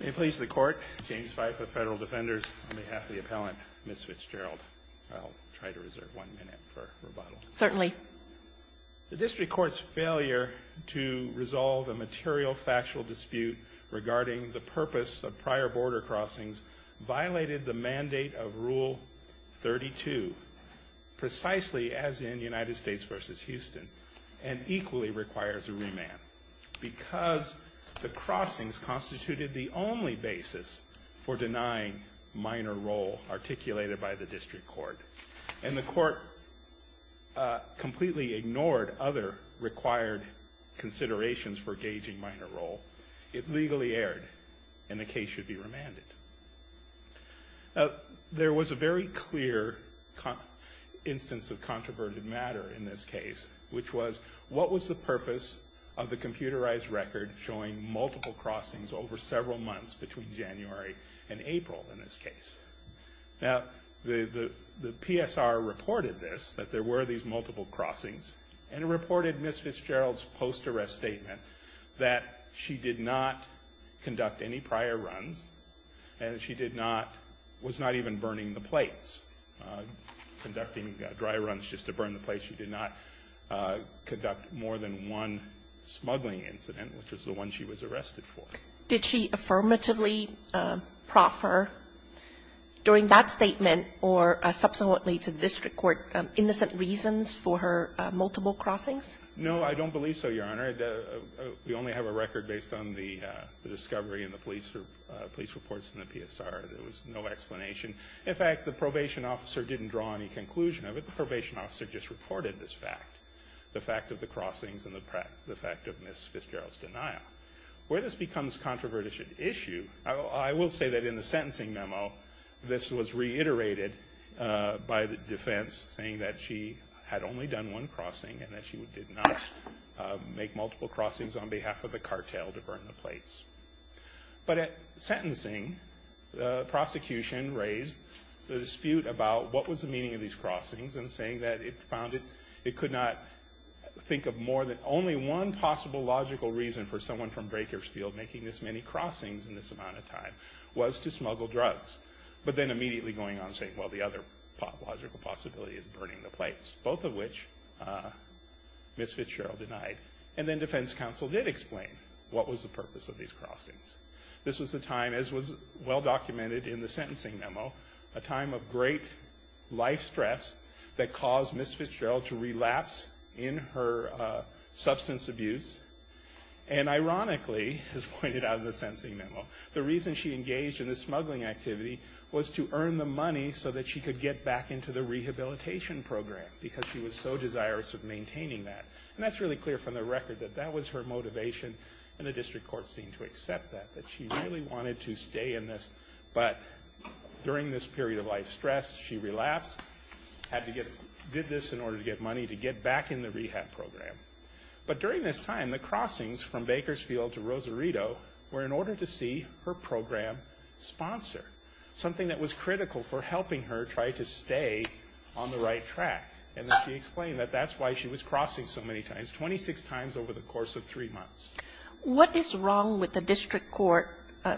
May it please the Court, James Fife of Federal Defenders, on behalf of the appellant, Ms. Fitzgerald. I'll try to reserve one minute for rebuttal. Certainly. The District Court's failure to resolve a material factual dispute regarding the purpose of prior border crossings violated the mandate of Rule 32, precisely as in United States v. Houston, and equally requires a remand. Because the crossings constituted the only basis for denying minor role articulated by the District Court. And the Court completely ignored other required considerations for gauging minor role. It legally erred, and the case should be remanded. There was a very clear instance of controverted matter in this case, which was, what was the purpose of the computerized record showing multiple crossings over several months between January and April in this case? Now, the PSR reported this, that there were these multiple crossings, and it reported Ms. Fitzgerald's post-arrest statement that she did not conduct any prior runs, and she did not, was not even burning the plates, conducting dry runs just to burn the plates. She did not conduct more than one smuggling incident, which was the one she was arrested for. Did she affirmatively proffer during that statement or subsequently to the District Court innocent reasons for her multiple crossings? No, I don't believe so, Your Honor. We only have a record based on the discovery and the police reports in the PSR. There was no explanation. In fact, the probation officer didn't draw any conclusion of it. The probation officer just reported this fact, the fact of the crossings and the fact of Ms. Fitzgerald's denial. Where this becomes controverted issue, I will say that in the sentencing memo, this was reiterated by the defense, saying that she had only done one crossing and that she did not make multiple crossings on behalf of the cartel to burn the plates. But at sentencing, the prosecution raised the dispute about what was the meaning of these crossings and saying that it found it could not think of more than only one possible logical reason for someone from Drakersfield making this many crossings in this amount of time was to smuggle drugs, but then immediately going on saying, well, the other logical possibility is burning the plates, both of which Ms. Fitzgerald denied. And then defense counsel did explain what was the purpose of these crossings. This was a time, as was well documented in the sentencing memo, a time of great life stress that caused Ms. Fitzgerald to relapse in her substance abuse. And ironically, as pointed out in the sentencing memo, the reason she engaged in this smuggling activity was to earn the money so that she could get back into the rehabilitation program because she was so desirous of maintaining that. And that's really clear from the record that that was her motivation, and the district court seemed to accept that, that she really wanted to stay in this. But during this period of life stress, she relapsed, had to get this in order to get money to get back in the rehab program. But during this time, the crossings from Bakersfield to Rosarito were in order to see her program sponsor, something that was critical for helping her try to stay on the right track. And she explained that that's why she was crossing so many times, 26 times over the course of three months. What is wrong with the district court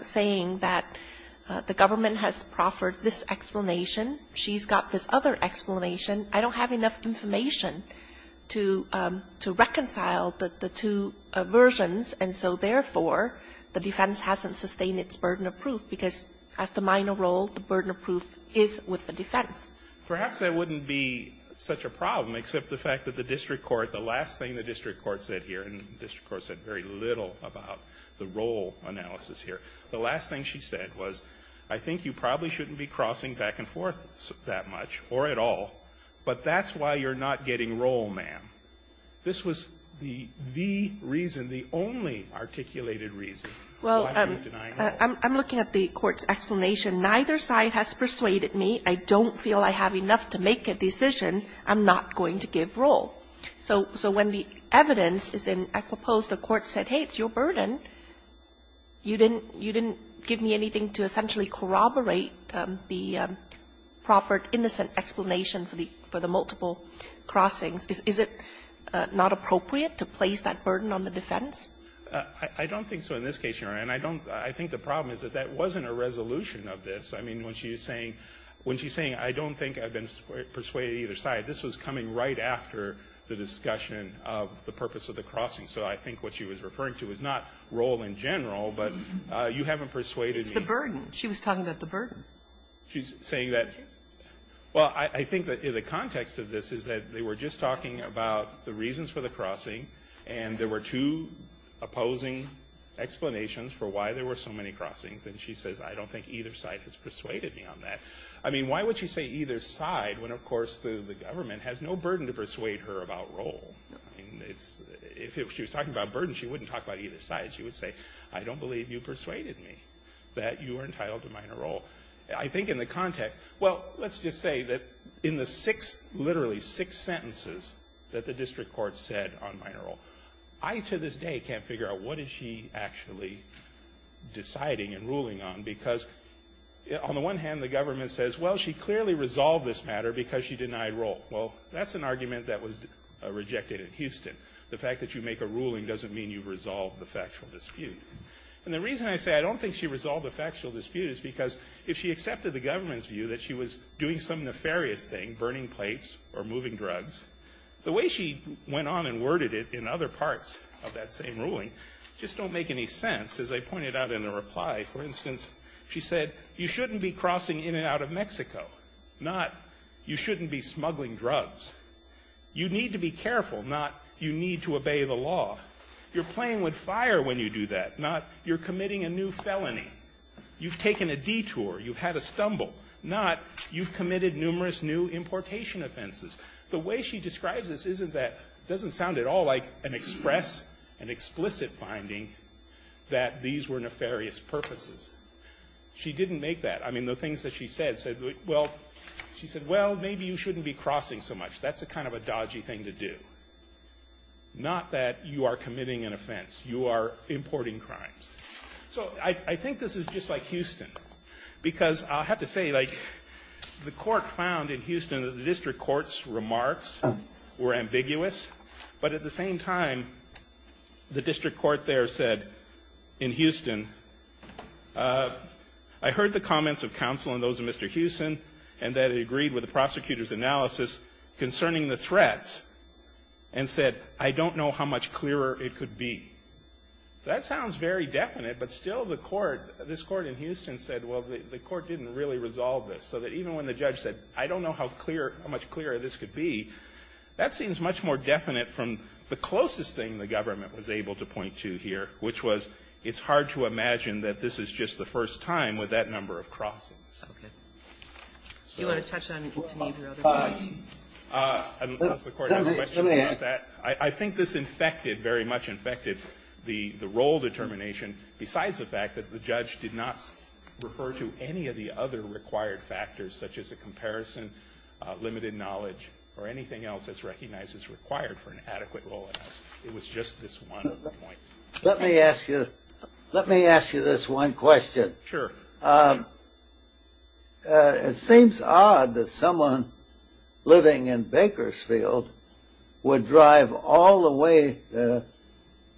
saying that the government has proffered this explanation, she's got this other explanation. I don't have enough information to reconcile the two versions, and so therefore, the defense hasn't sustained its burden of proof, because as the minor role, the burden of proof is with the defense. Perhaps that wouldn't be such a problem, except the fact that the district court, the last thing the district court said here, and the district court said very little about the role analysis here, the last thing she said was, I think you probably shouldn't be crossing back and forth that much, or at all, but that's why you're not getting role, ma'am. This was the reason, the only articulated reason why you're denying role. Well, I'm looking at the court's explanation. Neither side has persuaded me. I don't feel I have enough to make a decision. I'm not going to give role. So when the evidence is in, I propose the court said, hey, it's your burden. You didn't give me anything to essentially corroborate the proffered innocent explanation for the multiple crossings. Is it not appropriate to place that burden on the defense? I don't think so in this case, Your Honor. And I don't, I think the problem is that that wasn't a resolution of this. I mean, when she's saying, when she's saying I don't think I've been persuaded either side, this was coming right after the discussion of the purpose of the crossing. So I think what she was referring to is not role in general, but you haven't persuaded me. It's the burden. She was talking about the burden. She's saying that, well, I think that in the context of this is that they were just talking about the reasons for the crossing, and there were two opposing explanations for why there were so many crossings. And she says, I don't think either side has persuaded me on that. I mean, why would she say either side when, of course, the government has no burden to persuade her about role? I mean, it's, if she was talking about burden, she wouldn't talk about either side. She would say, I don't believe you persuaded me that you were entitled to minor role. I think in the context, well, let's just say that in the six, literally six sentences that the district court said on minor role, I, to this day, can't figure out what is she actually deciding and ruling on because on the one hand, the government says, well, she clearly resolved this matter because she denied role. Well, that's an argument that was rejected at Houston. The fact that you make a ruling doesn't mean you've resolved the factual dispute. And the reason I say I don't think she resolved the factual dispute is because if she accepted the government's view that she was doing some nefarious thing, burning plates or moving drugs, the way she went on and worded it in other parts of that same ruling just don't make any sense. As I pointed out in the reply, for instance, she said, you shouldn't be crossing in and out of Mexico, not you shouldn't be smuggling drugs. You need to be careful, not you need to obey the law. Not you're playing with fire when you do that. Not you're committing a new felony. You've taken a detour. You've had a stumble. Not you've committed numerous new importation offenses. The way she describes this isn't that, doesn't sound at all like an express, an explicit finding that these were nefarious purposes. She didn't make that. I mean, the things that she said said, well, she said, well, maybe you shouldn't be crossing so much. That's a kind of a dodgy thing to do. Not that you are committing an offense. You are importing crimes. So I think this is just like Houston, because I'll have to say, like, the court found in Houston that the district court's remarks were ambiguous. But at the same time, the district court there said in Houston, I heard the comments of counsel and those of Mr. Houston, and that it agreed with the prosecutor's analysis concerning the threats, and said, I don't know how much clearer it could be. So that sounds very definite, but still the court, this court in Houston, said, well, the court didn't really resolve this. So that even when the judge said, I don't know how much clearer this could be, that seems much more definite from the closest thing the government was able to point to here, which was it's hard to imagine that this is just the first time with that number of crossings. Okay. Do you want to touch on any of your other points? I don't know if the Court has a question about that. Let me ask. I think this infected, very much infected, the role determination, besides the fact that the judge did not refer to any of the other required factors, such as a comparison, limited knowledge, or anything else that's recognized as required for an adequate role analysis. It was just this one point. Let me ask you this one question. Sure. It seems odd that someone living in Bakersfield would drive all the way to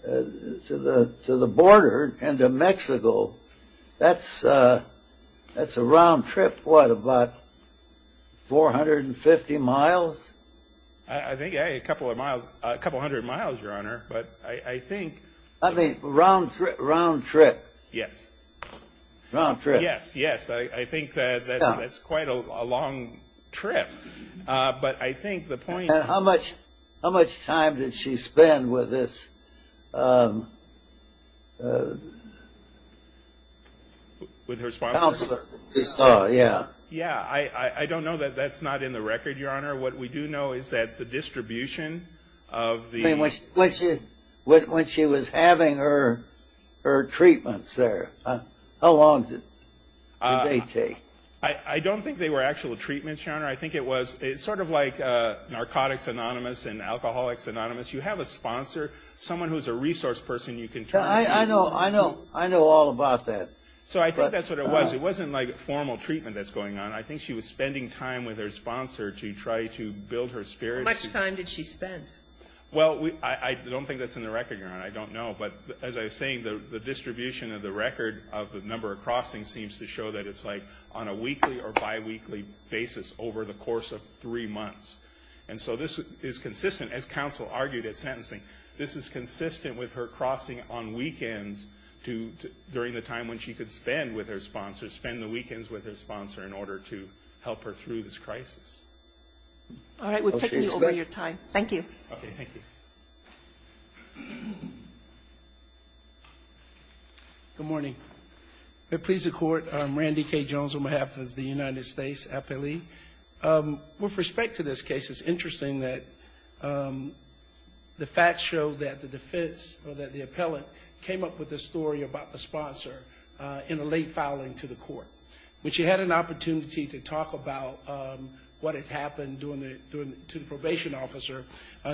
the border into Mexico. That's a round trip, what, about 450 miles? I think a couple of miles, a couple hundred miles, Your Honor, but I think. I mean, round trip. Yes. Round trip. Yes. Yes. I think that's quite a long trip. But I think the point. How much time did she spend with this counselor? Yeah. Yeah. I don't know that that's not in the record, Your Honor. What we do know is that the distribution of the. When she was having her treatments there, how long did they take? I don't think they were actual treatments, Your Honor. I think it was sort of like Narcotics Anonymous and Alcoholics Anonymous. You have a sponsor, someone who's a resource person you can turn to. I know all about that. So I think that's what it was. It wasn't like formal treatment that's going on. I think she was spending time with her sponsor to try to build her spirits. How much time did she spend? Well, I don't think that's in the record, Your Honor. I don't know. But as I was saying, the distribution of the record of the number of crossings seems to show that it's like on a weekly or biweekly basis over the course of three months. And so this is consistent, as counsel argued at sentencing, this is consistent with her crossing on weekends during the time when she could spend with her sponsor, spend the weekends with her sponsor in order to help her through this crisis. All right. We've taken you over your time. Thank you. Okay. Thank you. Good morning. It pleases the Court. I'm Randy K. Jones on behalf of the United States appellee. With respect to this case, it's interesting that the facts show that the defense or that the appellant came up with this story about the sponsor in a late filing to the court. When she had an opportunity to talk about what had happened to the probation officer,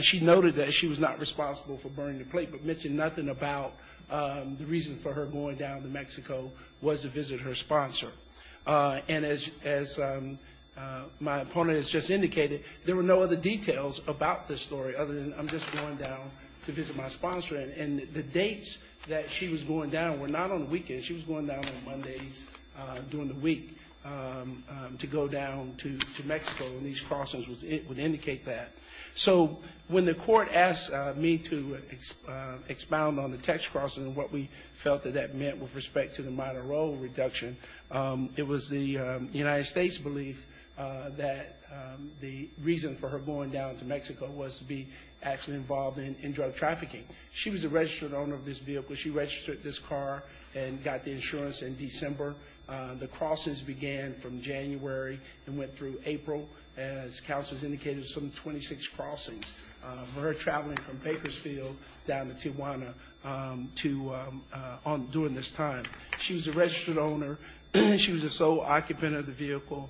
she noted that she was not responsible for burning the plate but mentioned nothing about the reason for her going down to Mexico was to visit her sponsor. And as my opponent has just indicated, there were no other details about this story other than I'm just going down to visit my sponsor. And the dates that she was going down were not on the weekend. She was going down on Mondays during the week to go down to Mexico. And these crossings would indicate that. So when the court asked me to expound on the text crossing and what we felt that that meant with respect to the minor role reduction, it was the United States' belief that the reason for her going down to Mexico was to be actually involved in drug trafficking. She was a registered owner of this vehicle. She registered this car and got the insurance in December. The crossings began from January and went through April, as counsel has indicated, some 26 crossings, for her traveling from Bakersfield down to Tijuana during this time. She was a registered owner. She was the sole occupant of the vehicle.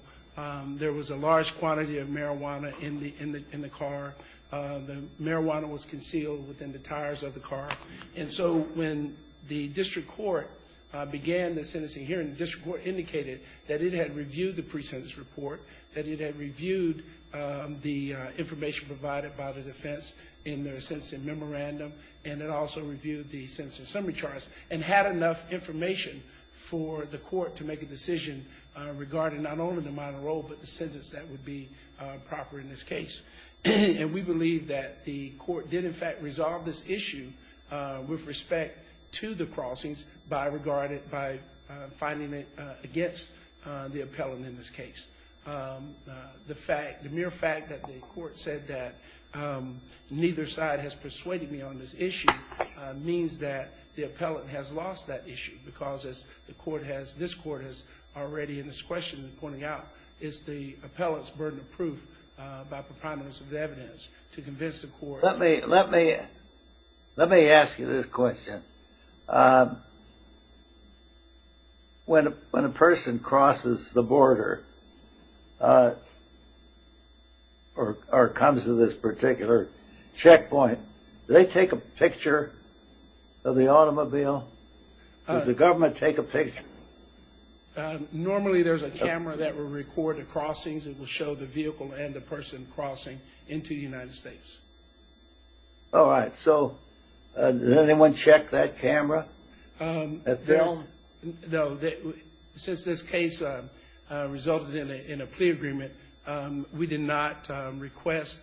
There was a large quantity of marijuana in the car. The marijuana was concealed within the tires of the car. And so when the district court began the sentencing hearing, the district court indicated that it had reviewed the pre-sentence report, that it had reviewed the information provided by the defense in their sentencing memorandum, and it also reviewed the sentencing summary charts and had enough information for the court to make a decision regarding not only the minor role but the sentence that would be proper in this case. And we believe that the court did, in fact, resolve this issue with respect to the crossings by finding it against the appellant in this case. The mere fact that the court said that neither side has persuaded me on this issue means that the appellant has lost that issue because this court has already, in its question, is the appellant's burden of proof by preponderance of the evidence to convince the court. Let me ask you this question. When a person crosses the border or comes to this particular checkpoint, do they take a picture of the automobile? Does the government take a picture? Normally, there's a camera that will record the crossings. It will show the vehicle and the person crossing into the United States. All right. So does anyone check that camera? No. Since this case resulted in a plea agreement, we did not request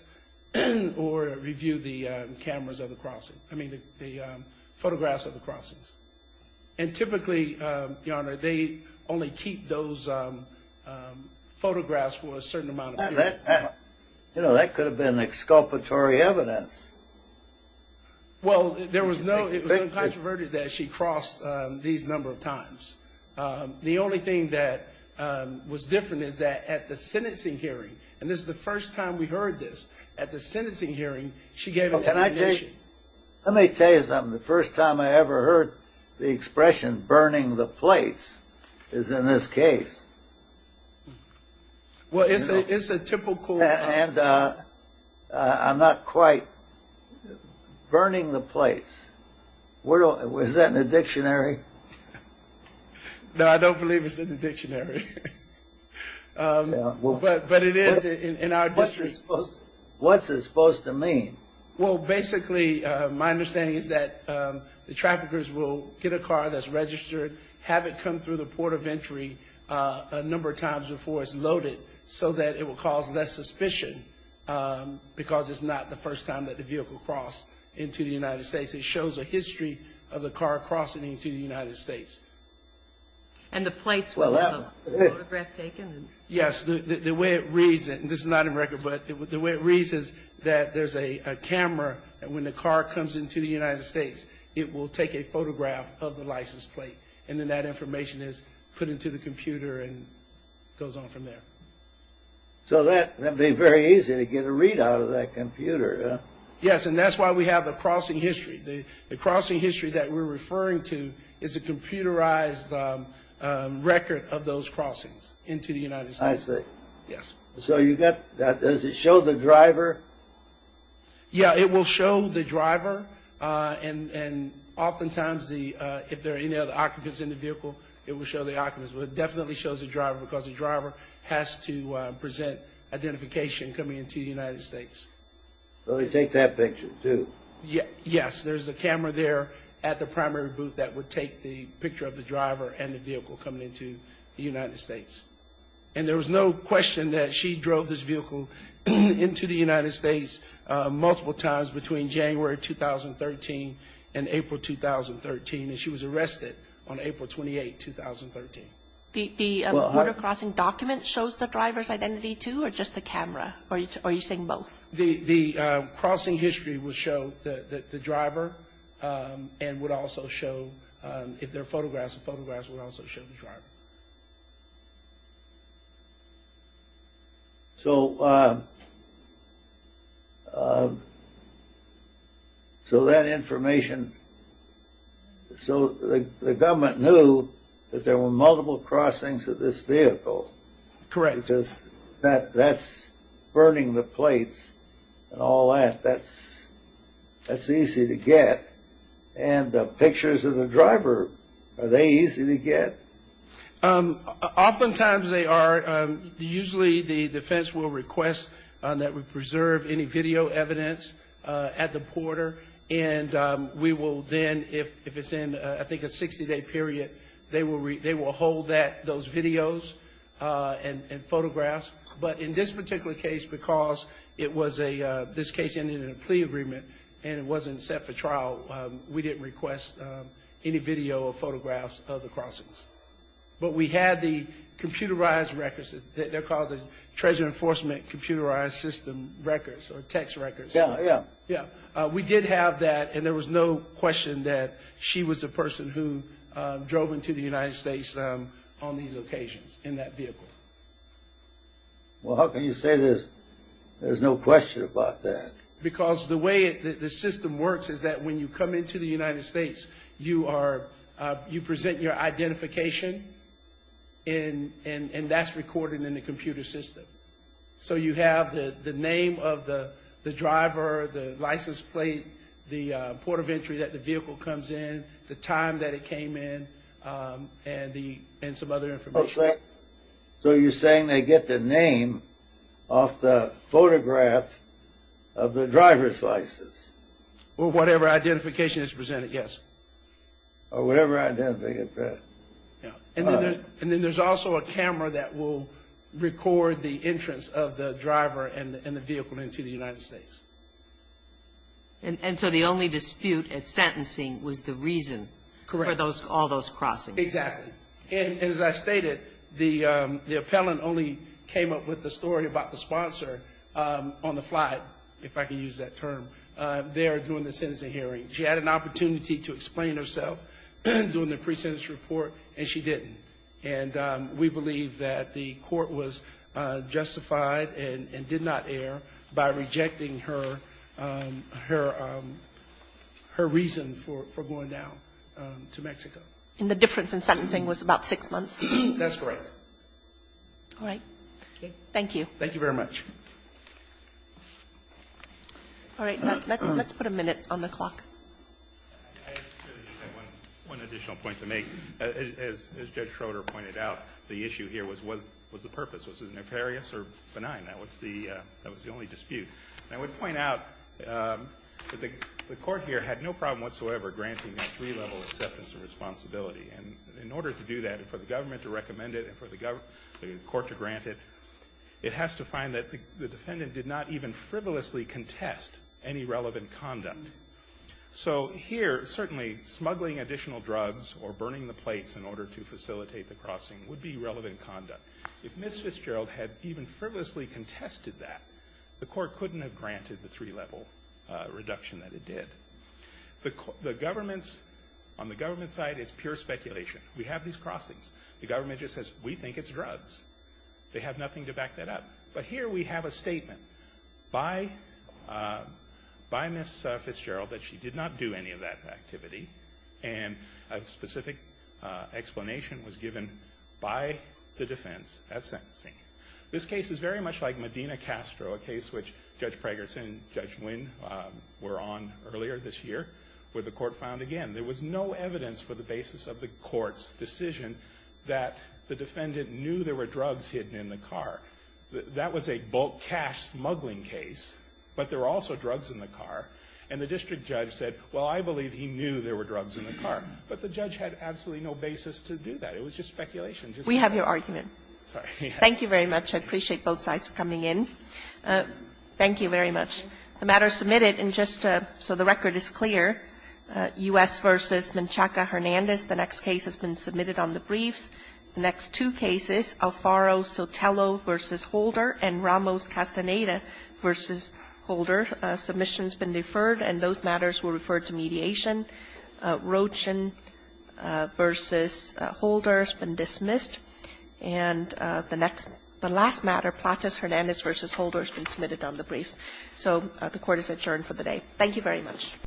or review the cameras of the crossing, I mean the photographs of the crossings. And typically, Your Honor, they only keep those photographs for a certain amount of time. You know, that could have been exculpatory evidence. Well, there was no, it was uncontroverted that she crossed these number of times. The only thing that was different is that at the sentencing hearing, and this is the first time we heard this, at the sentencing hearing, she gave a recognition. Let me tell you something. The first time I ever heard the expression burning the plates is in this case. Well, it's a typical. And I'm not quite burning the plates. Is that in the dictionary? No, I don't believe it's in the dictionary. But it is in our. What's it supposed to mean? Well, basically, my understanding is that the traffickers will get a car that's registered, have it come through the port of entry a number of times before it's loaded so that it will cause less suspicion because it's not the first time that the vehicle crossed into the United States. It shows a history of the car crossing into the United States. And the plates were the photograph taken? Yes, the way it reads, and this is not in record, but the way it reads is that there's a camera, and when the car comes into the United States, it will take a photograph of the license plate, and then that information is put into the computer and goes on from there. So that would be very easy to get a readout of that computer. Yes, and that's why we have the crossing history. The crossing history that we're referring to is a computerized record of those crossings into the United States. I see. Yes. So you've got that. Does it show the driver? Yeah, it will show the driver, and oftentimes, if there are any other occupants in the vehicle, it will show the occupants, but it definitely shows the driver because the driver has to present identification coming into the United States. So they take that picture, too? Yes, there's a camera there at the primary booth that would take the picture of the driver and the vehicle coming into the United States. And there was no question that she drove this vehicle into the United States multiple times between January 2013 and April 2013, and she was arrested on April 28, 2013. The border crossing document shows the driver's identity, too, or just the camera? Or are you saying both? The crossing history will show the driver and would also show, if there are photographs, the photographs will also show the driver. So that information, so the government knew that there were multiple crossings of this vehicle. Correct. Because that's burning the plates and all that. That's easy to get. And pictures of the driver, are they easy to get? Oftentimes, they are. Usually, the defense will request that we preserve any video evidence at the border, and we will then, if it's in, I think, a 60-day period, they will hold those videos and photographs. But in this particular case, because this case ended in a plea agreement and it wasn't set for trial, we didn't request any video or photographs of the crossings. But we had the computerized records. They're called the Treasure Enforcement Computerized System records or text records. Yeah, yeah. Yeah. We did have that, and there was no question that she was the person who drove into the United States on these occasions in that vehicle. Well, how can you say there's no question about that? Because the way the system works is that when you come into the United States, you present your identification, and that's recorded in the computer system. So you have the name of the driver, the license plate, the port of entry that the vehicle comes in, the time that it came in, and some other information. Okay. So you're saying they get the name off the photograph of the driver's license. Or whatever identification is presented, yes. Or whatever identification. And then there's also a camera that will record the entrance of the driver and the vehicle into the United States. And so the only dispute at sentencing was the reason for all those crossings. Correct. Exactly. And as I stated, the appellant only came up with the story about the sponsor on the flight, if I can use that term, there during the sentencing hearing. She had an opportunity to explain herself during the pre-sentence report, and she didn't. And we believe that the court was justified and did not err by rejecting her reason for going down to Mexico. And the difference in sentencing was about six months. That's correct. All right. Thank you. Thank you very much. All right. Let's put a minute on the clock. I just have one additional point to make. As Judge Schroeder pointed out, the issue here was the purpose. Was it nefarious or benign? That was the only dispute. And I would point out that the court here had no problem whatsoever granting that three-level acceptance of responsibility. And in order to do that, and for the government to recommend it, and for the court to grant it, it has to find that the defendant did not even frivolously contest any relevant conduct. So here, certainly, smuggling additional drugs or burning the plates in order to facilitate the crossing would be relevant conduct. If Ms. Fitzgerald had even frivolously contested that, the court couldn't have granted the three-level reduction that it did. The government's, on the government's side, it's pure speculation. We have these crossings. The government just says, we think it's drugs. They have nothing to back that up. But here we have a statement by Ms. Fitzgerald that she did not do any of that activity, and a specific explanation was given by the defense at sentencing. This case is very much like Medina-Castro, a case which Judge Pragerson and Judge Wynn were on earlier this year, where the court found, again, there was no evidence for the basis of the court's decision that the defendant knew there were drugs hidden in the car. That was a bulk cash smuggling case, but there were also drugs in the car. And the district judge said, well, I believe he knew there were drugs in the car. But the judge had absolutely no basis to do that. It was just speculation. It just wasn't there. Kagan. Thank you very much. I appreciate both sides for coming in. Thank you very much. The matter is submitted, and just so the record is clear, U.S. v. Menchaca-Hernandez. The next case has been submitted on the briefs. The next two cases, Alfaro-Sotelo v. Holder and Ramos-Castaneda v. Holder, submissions been deferred, and those matters were referred to mediation. Rochin v. Holder has been dismissed. And the next the last matter, Plattus-Hernandez v. Holder, has been submitted on the briefs. So the Court is adjourned for the day. Thank you very much.